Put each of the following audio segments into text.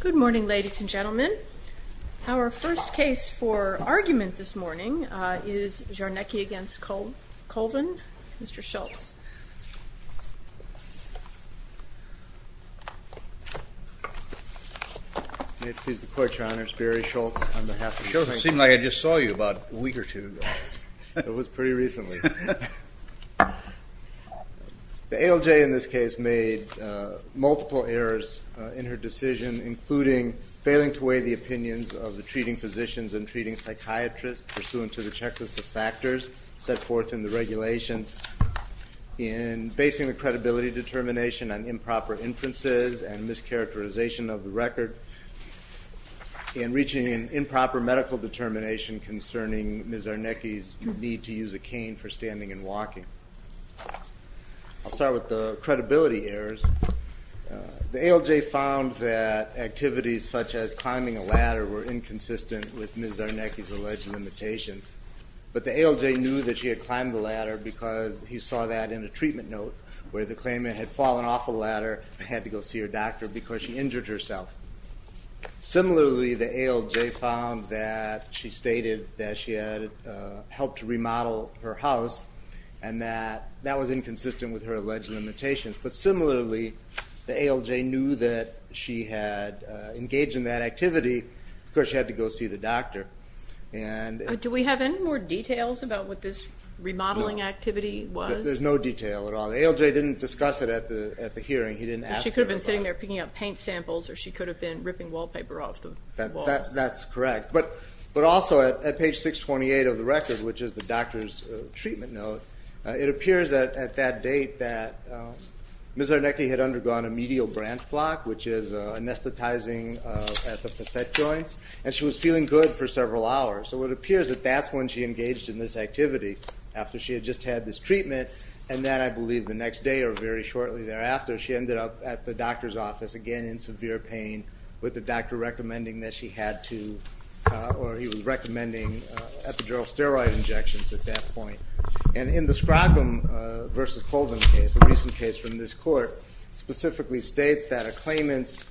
Good morning, ladies and gentlemen. Our first case for argument this morning is Czarnecki v. Colvin, Mr. Schultz. May it please the Court, Your Honor, it's Barry Schultz on behalf of the plaintiff. Schultz, it seemed like I just saw you about a week or two ago. It was pretty recently. The ALJ in this case made multiple errors in her decision, including failing to weigh the opinions of the treating physicians and treating psychiatrists pursuant to the checklist of factors set forth in the regulations, in basing the credibility determination on improper inferences and mischaracterization of the record, in reaching an improper medical determination Ms. Czarnecki's need to use a cane for standing and walking. I'll start with the credibility errors. The ALJ found that activities such as climbing a ladder were inconsistent with Ms. Czarnecki's alleged limitations, but the ALJ knew that she had climbed the ladder because he saw that in a treatment note where the claimant had fallen off a ladder and had to go see her doctor because she injured herself. Similarly, the ALJ found that she stated that she had helped to remodel her house and that that was inconsistent with her alleged limitations. But similarly, the ALJ knew that she had engaged in that activity because she had to go see the doctor. Do we have any more details about what this remodeling activity was? There's no detail at all. The ALJ didn't discuss it at the hearing. She could have been sitting there picking up paint samples or she could have been ripping wallpaper off the wall. That's correct. But also at page 628 of the record, which is the doctor's treatment note, it appears that at that date that Ms. Czarnecki had undergone a medial branch block, which is anesthetizing at the facet joints, and she was feeling good for several hours. So it appears that that's when she engaged in this activity, after she had just had this office, again in severe pain, with the doctor recommending that she had to, or he was recommending epidural steroid injections at that point. And in the Scroggum v. Colvin case, a recent case from this court, specifically states that a claimant's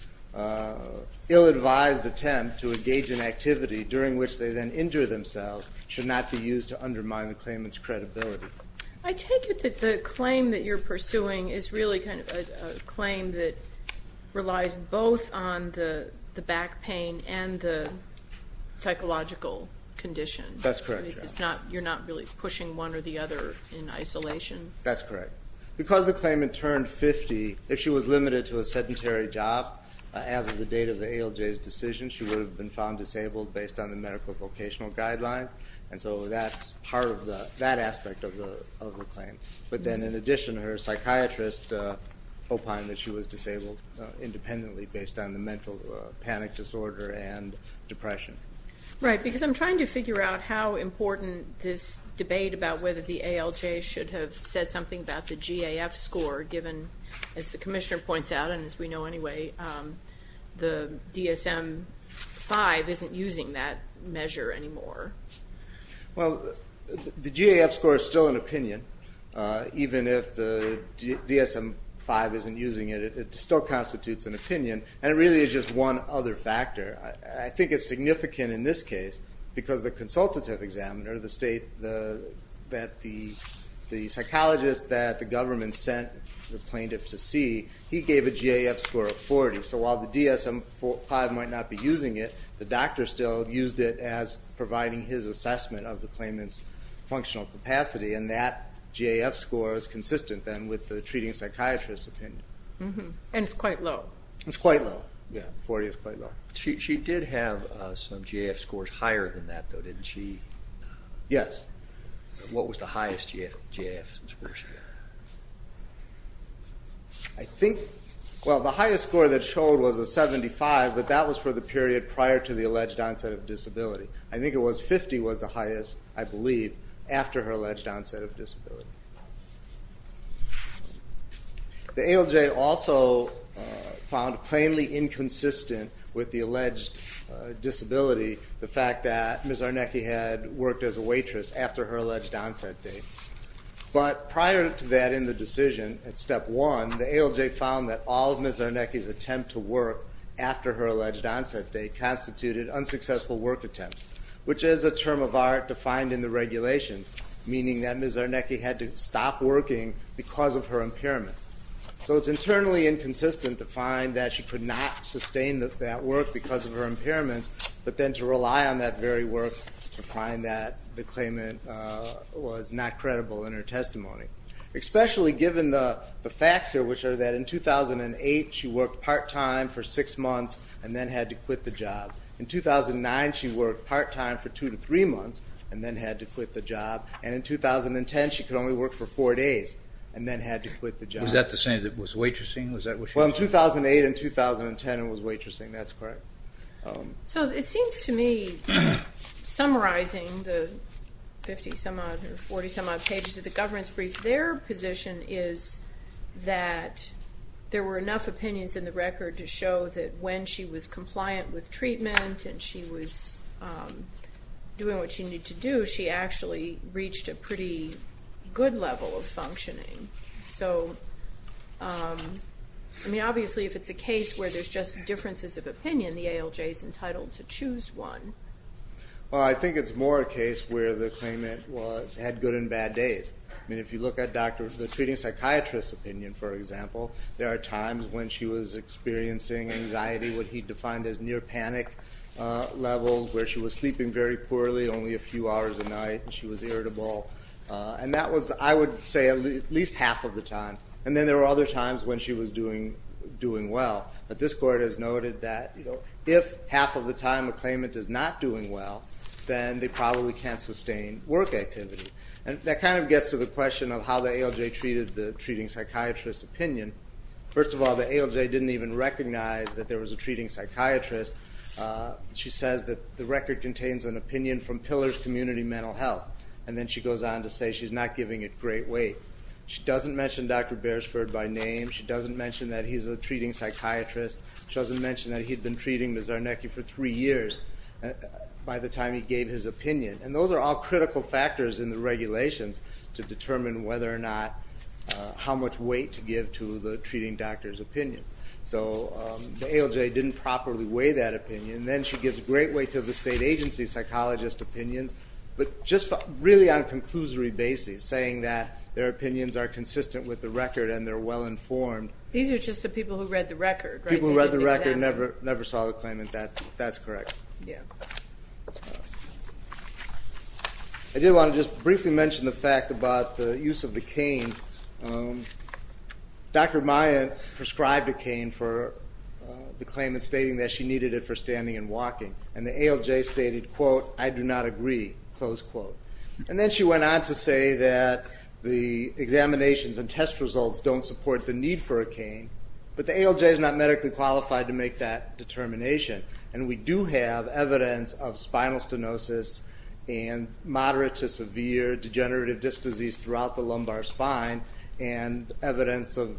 ill-advised attempt to engage in activity during which they then injure themselves should not be used to undermine the claimant's credibility. I take it that the claim that you're pursuing is really kind of a claim that relies both on the back pain and the psychological condition. That's correct. You're not really pushing one or the other in isolation? That's correct. Because the claimant turned 50, if she was limited to a sedentary job as of the date of the ALJ's decision, she would have been found disabled based on the medical vocational guidelines, and so that's part of that aspect of the claim. But then in addition, her psychiatrist opined that she was disabled independently based on the mental panic disorder and depression. Right, because I'm trying to figure out how important this debate about whether the ALJ should have said something about the GAF score, given, as the Commissioner points out, and Well, the GAF score is still an opinion, even if the DSM-5 isn't using it. It still constitutes an opinion, and it really is just one other factor. I think it's significant in this case because the consultative examiner, the psychologist that the government sent the plaintiff to see, he gave a GAF score of 40. So while the DSM-5 might not be using it, the doctor still used it as providing his assessment of the claimant's functional capacity, and that GAF score is consistent then with the treating psychiatrist's opinion. And it's quite low. It's quite low. Yeah, 40 is quite low. She did have some GAF scores higher than that, though, didn't she? Yes. What was the highest GAF score she had? I think, well, the highest score that showed was a 75, but that was for the period prior to the alleged onset of disability. I think it was 50 was the highest, I believe, after her alleged onset of disability. The ALJ also found, plainly inconsistent with the alleged disability, the fact that Ms. Arnecki had worked as a waitress after her alleged onset date. But prior to that in the decision, at step one, the ALJ found that all of Ms. Arnecki's attempt to work after her alleged onset date constituted unsuccessful work attempts, which is a term of art defined in the regulations, meaning that Ms. Arnecki had to stop working because of her impairment. So it's internally inconsistent to find that she could not sustain that work because of Especially given the facts here, which are that in 2008 she worked part-time for six months and then had to quit the job. In 2009 she worked part-time for two to three months and then had to quit the job. And in 2010 she could only work for four days and then had to quit the job. Was that the same that was waitressing? Well, in 2008 and 2010 it was waitressing. That's correct. So it seems to me, summarizing the 50 some odd or 40 some odd pages of the governance brief, their position is that there were enough opinions in the record to show that when she was compliant with treatment and she was doing what she needed to do, she actually reached a pretty good level of functioning. So, I mean, obviously if it's a case where there's just differences of opinion, the ALJ is entitled to choose one. Well, I think it's more a case where the claimant had good and bad days. I mean, if you look at the treating psychiatrist's opinion, for example, there are times when she was experiencing anxiety, what he defined as near panic level, where she was sleeping very poorly, only a few hours a night, and she was irritable. And that was, I would say, at least half of the time. And then there were other times when she was doing well. But this court has noted that if half of the time the claimant is not doing well, then they probably can't sustain work activity. And that kind of gets to the question of how the ALJ treated the treating psychiatrist's opinion. First of all, the ALJ didn't even recognize that there was a treating psychiatrist. She says that the record contains an opinion from Pillars Community Mental Health. And then she goes on to say she's not giving it great weight. She doesn't mention Dr. Beresford by name. She doesn't mention that he's a treating psychiatrist. She doesn't mention that he'd been treating Ms. Zarnecki for three years by the time he gave his opinion. And those are all critical factors in the regulations to determine whether or not, how much weight to give to the treating doctor's opinion. So the ALJ didn't properly weigh that opinion. Then she gives great weight to the state agency psychologist's opinions. But just really on a conclusory basis, saying that their opinions are consistent with the record and they're well informed. These are just the people who read the record, right? People who read the record and never saw the claimant. That's correct. Yeah. I do want to just briefly mention the fact about the use of the cane. Dr. Maya prescribed a cane for the claimant stating that she needed it for standing and walking. And the ALJ stated, quote, I do not agree, close quote. And then she went on to say that the examinations and test results don't support the need for a cane. But the ALJ is not medically qualified to make that determination. And we do have evidence of spinal stenosis and moderate to severe degenerative disc disease throughout the lumbar spine. And based on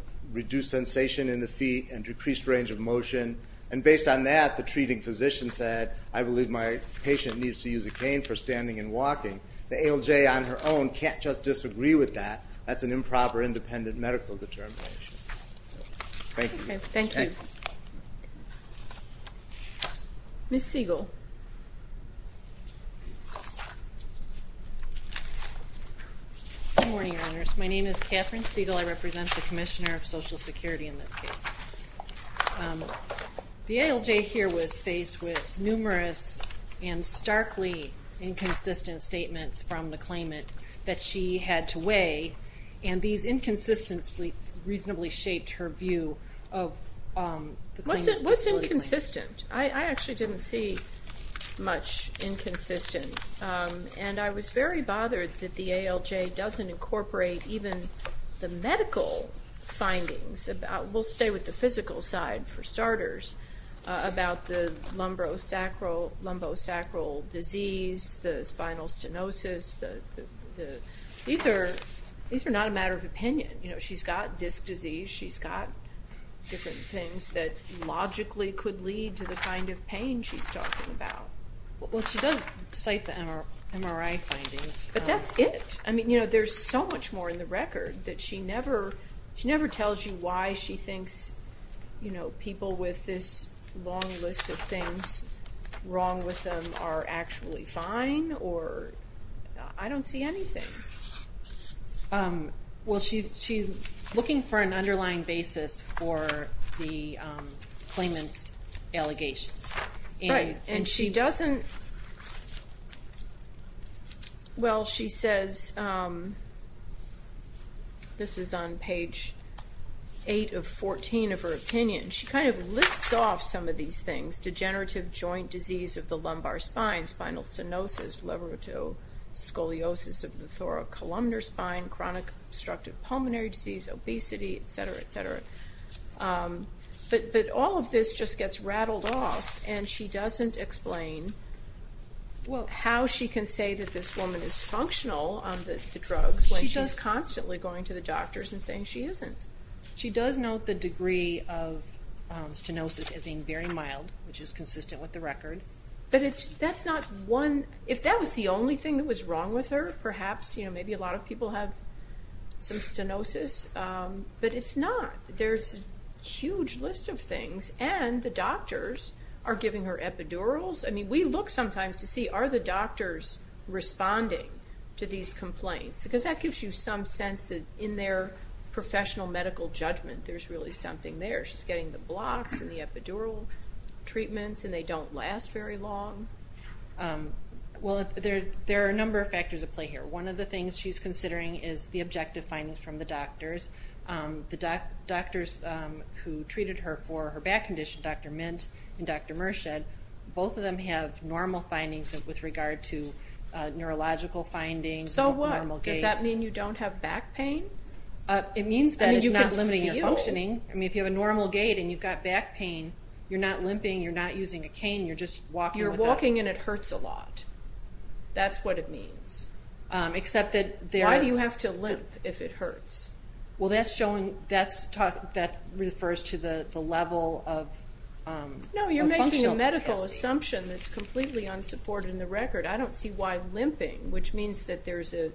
that, the treating physician said, I believe my patient needs to use a cane for standing and walking. The ALJ on her own can't just disagree with that. That's an improper independent medical determination. Thank you. Thank you. Ms. Siegel. Good morning, Your Honors. My name is Catherine Siegel. I represent the Commissioner of Social Security in this case. The ALJ here was faced with numerous and starkly inconsistent statements from the claimant that she had to weigh. And these inconsistencies reasonably shaped her view of the claimant's disability claim. What's inconsistent? I actually didn't see much inconsistent. And I was very bothered that the ALJ doesn't incorporate even the medical findings. We'll stay with the physical side for starters about the lumbosacral disease, the spinal stenosis. These are not a matter of opinion. She's got disc disease. She's got different things that logically could lead to the kind of pain she's talking about. Well, she does cite the MRI findings. But that's it. I mean, you know, there's so much more in the record that she never tells you why she thinks, you know, people with this long list of things wrong with them are actually fine or I don't see anything. Well, she's looking for an underlying basis for the claimant's allegations. Right. And she doesn't. Well, she says this is on page 8 of 14 of her opinion. She kind of lists off some of these things, degenerative joint disease of the lumbar spine, spinal stenosis, liver to scoliosis of the thoracolumnar spine, chronic obstructive pulmonary disease, but all of this just gets rattled off, and she doesn't explain how she can say that this woman is functional on the drugs when she's constantly going to the doctors and saying she isn't. She does note the degree of stenosis as being very mild, which is consistent with the record. But that's not one. If that was the only thing that was wrong with her, perhaps, you know, maybe a lot of people have some stenosis. But it's not. There's a huge list of things, and the doctors are giving her epidurals. I mean, we look sometimes to see are the doctors responding to these complaints, because that gives you some sense that in their professional medical judgment there's really something there. She's getting the blocks and the epidural treatments, and they don't last very long. Well, there are a number of factors at play here. One of the things she's considering is the objective findings from the doctors. The doctors who treated her for her back condition, Dr. Mint and Dr. Merschad, both of them have normal findings with regard to neurological findings, normal gait. So what? Does that mean you don't have back pain? It means that it's not limiting your functioning. I mean, if you have a normal gait and you've got back pain, you're not limping, you're not using a cane, you're just walking. You're walking and it hurts a lot. That's what it means. Why do you have to limp if it hurts? Well, that's showing, that refers to the level of functional capacity. No, you're making a medical assumption that's completely unsupported in the record. I don't see why limping, which means that there's an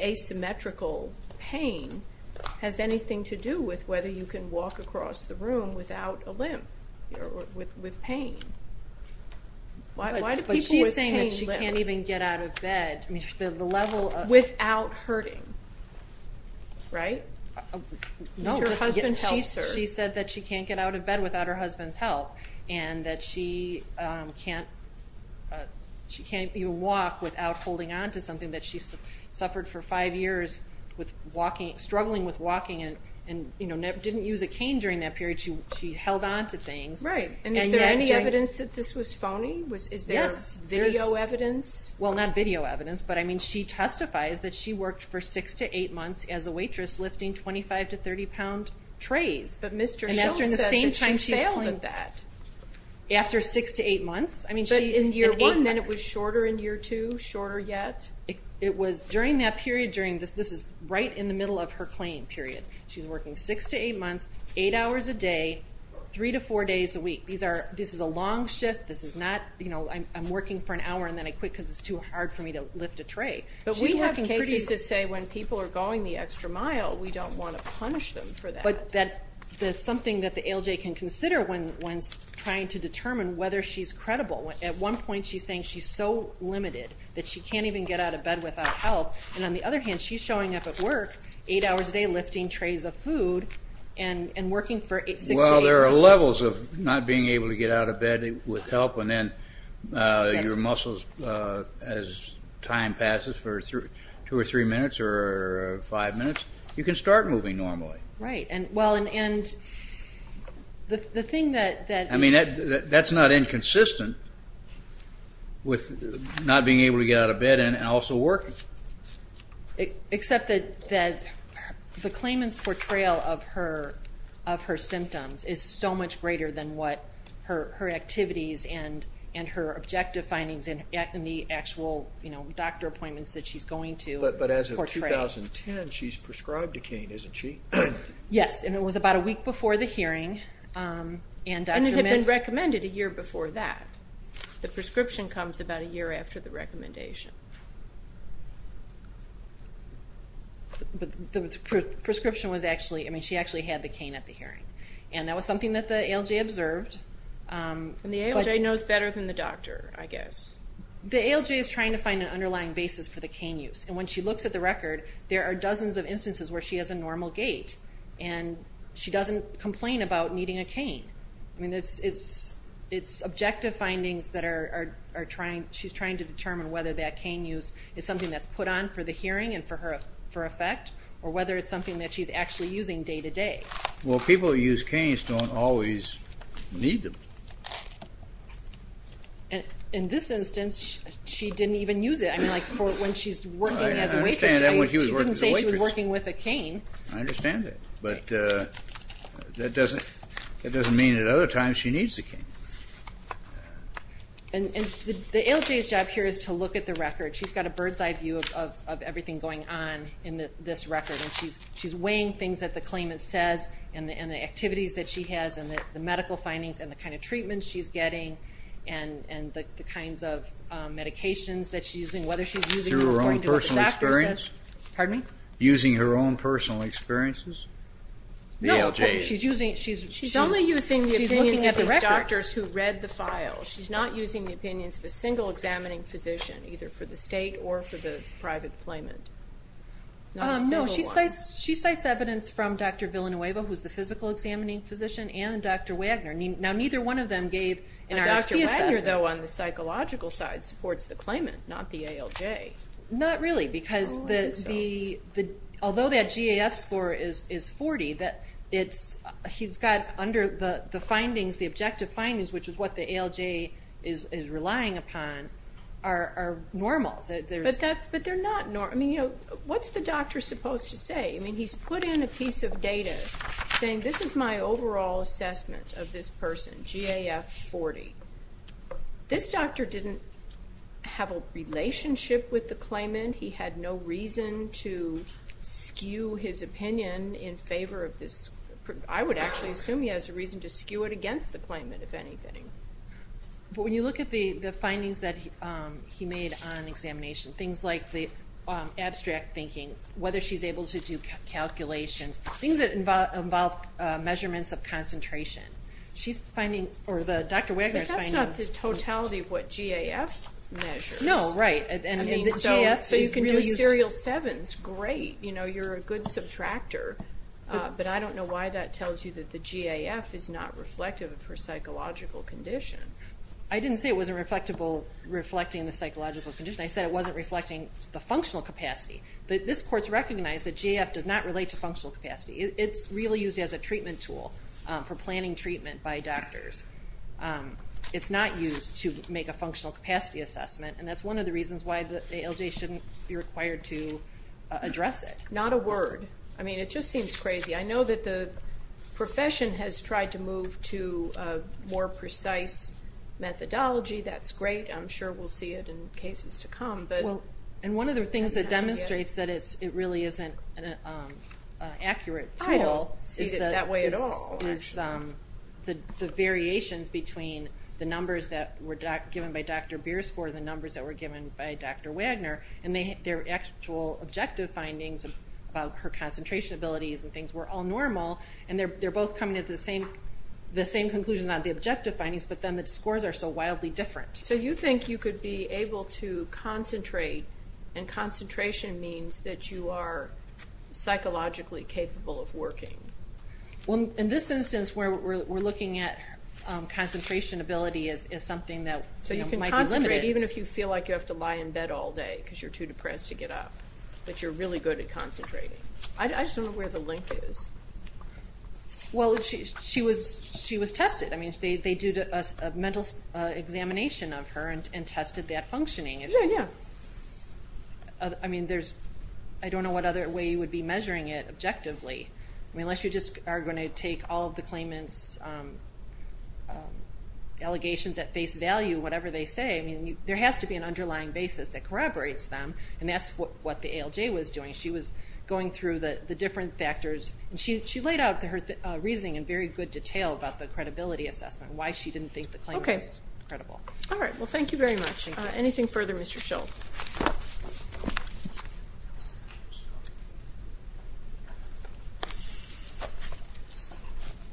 asymmetrical pain, has anything to do with whether you can walk across the room without a limp or with pain. Why do people with pain limp? But she's saying that she can't even get out of bed. Without hurting, right? No, just to get help. Your husband helps her. She said that she can't get out of bed without her husband's help and that she can't even walk without holding on to something. That she suffered for five years struggling with walking and didn't use a cane during that period. She held on to things. Right, and is there any evidence that this was phony? Yes. Is there video evidence? Well, not video evidence, but I mean, she testifies that she worked for six to eight months as a waitress lifting 25 to 30 pound trays. But Mr. Schultz said that she failed at that. After six to eight months. But in year one, then it was shorter in year two, shorter yet? It was during that period. This is right in the middle of her claim period. She's working six to eight months, eight hours a day, three to four days a week. This is a long shift. This is not, you know, I'm working for an hour and then I quit because it's too hard for me to lift a tray. But we have cases that say when people are going the extra mile, we don't want to punish them for that. But that's something that the ALJ can consider when trying to determine whether she's credible. At one point, she's saying she's so limited that she can't even get out of bed without help. And on the other hand, she's showing up at work eight hours a day lifting trays of food and working for six to eight months. Well, there are levels of not being able to get out of bed with help, and then your muscles, as time passes for two or three minutes or five minutes, you can start moving normally. Right. Well, and the thing that is – I mean, that's not inconsistent with not being able to get out of bed and also working. Except that the claimant's portrayal of her symptoms is so much greater than what her activities and her objective findings in the actual doctor appointments that she's going to portray. In 2010, she's prescribed a cane, isn't she? Yes, and it was about a week before the hearing. And it had been recommended a year before that. The prescription comes about a year after the recommendation. But the prescription was actually – I mean, she actually had the cane at the hearing. And that was something that the ALJ observed. And the ALJ knows better than the doctor, I guess. The ALJ is trying to find an underlying basis for the cane use. And when she looks at the record, there are dozens of instances where she has a normal gait. And she doesn't complain about needing a cane. I mean, it's objective findings that she's trying to determine whether that cane use is something that's put on for the hearing and for effect, or whether it's something that she's actually using day to day. Well, people who use canes don't always need them. In this instance, she didn't even use it. I mean, when she's working as a waitress, she didn't say she was working with a cane. I understand that. But that doesn't mean that other times she needs a cane. And the ALJ's job here is to look at the record. She's got a bird's eye view of everything going on in this record. And she's weighing things that the claimant says and the activities that she has and the medical findings and the kind of treatment she's getting and the kinds of medications that she's using, whether she's using them according to what the doctor says. Using her own personal experiences? No, she's only using the opinions of these doctors who read the file. She's not using the opinions of a single examining physician, either for the state or for the private claimant. No, she cites evidence from Dr. Villanueva, who's the physical examining physician, and Dr. Wagner. Now, neither one of them gave an RFC assessment. Dr. Wagner, though, on the psychological side, supports the claimant, not the ALJ. Not really, because although that GAF score is 40, he's got under the findings, the objective findings, which is what the ALJ is relying upon, are normal. But they're not normal. I mean, what's the doctor supposed to say? I mean, he's put in a piece of data saying, this is my overall assessment of this person, GAF 40. This doctor didn't have a relationship with the claimant. He had no reason to skew his opinion in favor of this. I would actually assume he has a reason to skew it against the claimant, if anything. But when you look at the findings that he made on examination, things like the abstract thinking, whether she's able to do calculations, things that involve measurements of concentration, she's finding, or Dr. Wagner is finding. But that's not the totality of what GAF measures. No, right. So you can do serial sevens. Great. You know, you're a good subtractor. But I don't know why that tells you that the GAF is not reflective of her psychological condition. I didn't say it wasn't reflecting the psychological condition. I said it wasn't reflecting the functional capacity. This court's recognized that GAF does not relate to functional capacity. It's really used as a treatment tool for planning treatment by doctors. It's not used to make a functional capacity assessment, and that's one of the reasons why the ALJ shouldn't be required to address it. Not a word. I mean, it just seems crazy. I know that the profession has tried to move to a more precise methodology. That's great. I'm sure we'll see it in cases to come. And one of the things that demonstrates that it really isn't an accurate tool is the variations between the numbers that were given by Dr. Bier's score and the numbers that were given by Dr. Wagner, and their actual objective findings about her concentration abilities and things were all normal, and they're both coming at the same conclusion, not the objective findings, but then the scores are so wildly different. So you think you could be able to concentrate, and concentration means that you are psychologically capable of working. Well, in this instance where we're looking at concentration ability as something that might be limited. So you can concentrate even if you feel like you have to lie in bed all day because you're too depressed to get up, but you're really good at concentrating. I just don't know where the link is. Well, she was tested. I mean, they did a mental examination of her and tested that functioning. Yeah, yeah. I mean, I don't know what other way you would be measuring it objectively. I mean, unless you just are going to take all of the claimants' allegations at face value, whatever they say, I mean, there has to be an underlying basis that corroborates them, and that's what the ALJ was doing. She was going through the different factors, and she laid out her reasoning in very good detail about the credibility assessment and why she didn't think the claim was credible. All right, well, thank you very much. Anything further, Mr. Schultz?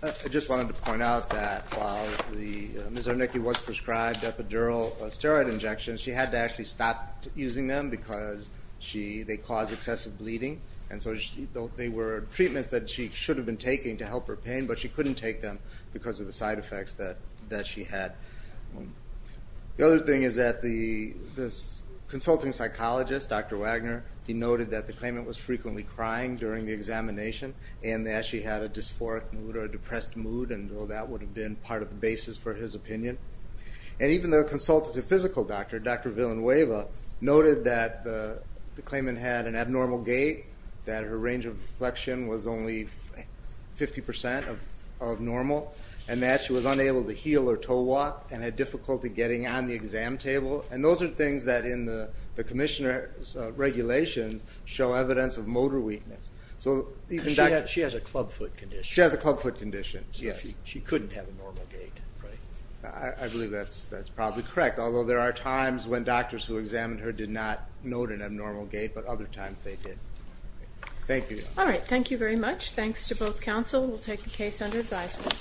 I just wanted to point out that while Ms. Arneke was prescribed epidural steroid injections, she had to actually stop using them because they cause excessive bleeding. And so they were treatments that she should have been taking to help her pain, but she couldn't take them because of the side effects that she had. The other thing is that the consulting psychologist, Dr. Wagner, he noted that the claimant was frequently crying during the examination and that she had a dysphoric mood or a depressed mood, and so that would have been part of the basis for his opinion. And even the consultative physical doctor, Dr. Villanueva, noted that the claimant had an abnormal gait, that her range of deflection was only 50% of normal, and that she was unable to heel or toe walk and had difficulty getting on the exam table. And those are things that in the commissioner's regulations show evidence of motor weakness. She has a clubfoot condition. She has a clubfoot condition, yes. So she couldn't have a normal gait, right? I believe that's probably correct, although there are times when doctors who examined her did not note an abnormal gait, but other times they did. Thank you. All right, thank you very much. Thanks to both counsel. We'll take the case under advisement.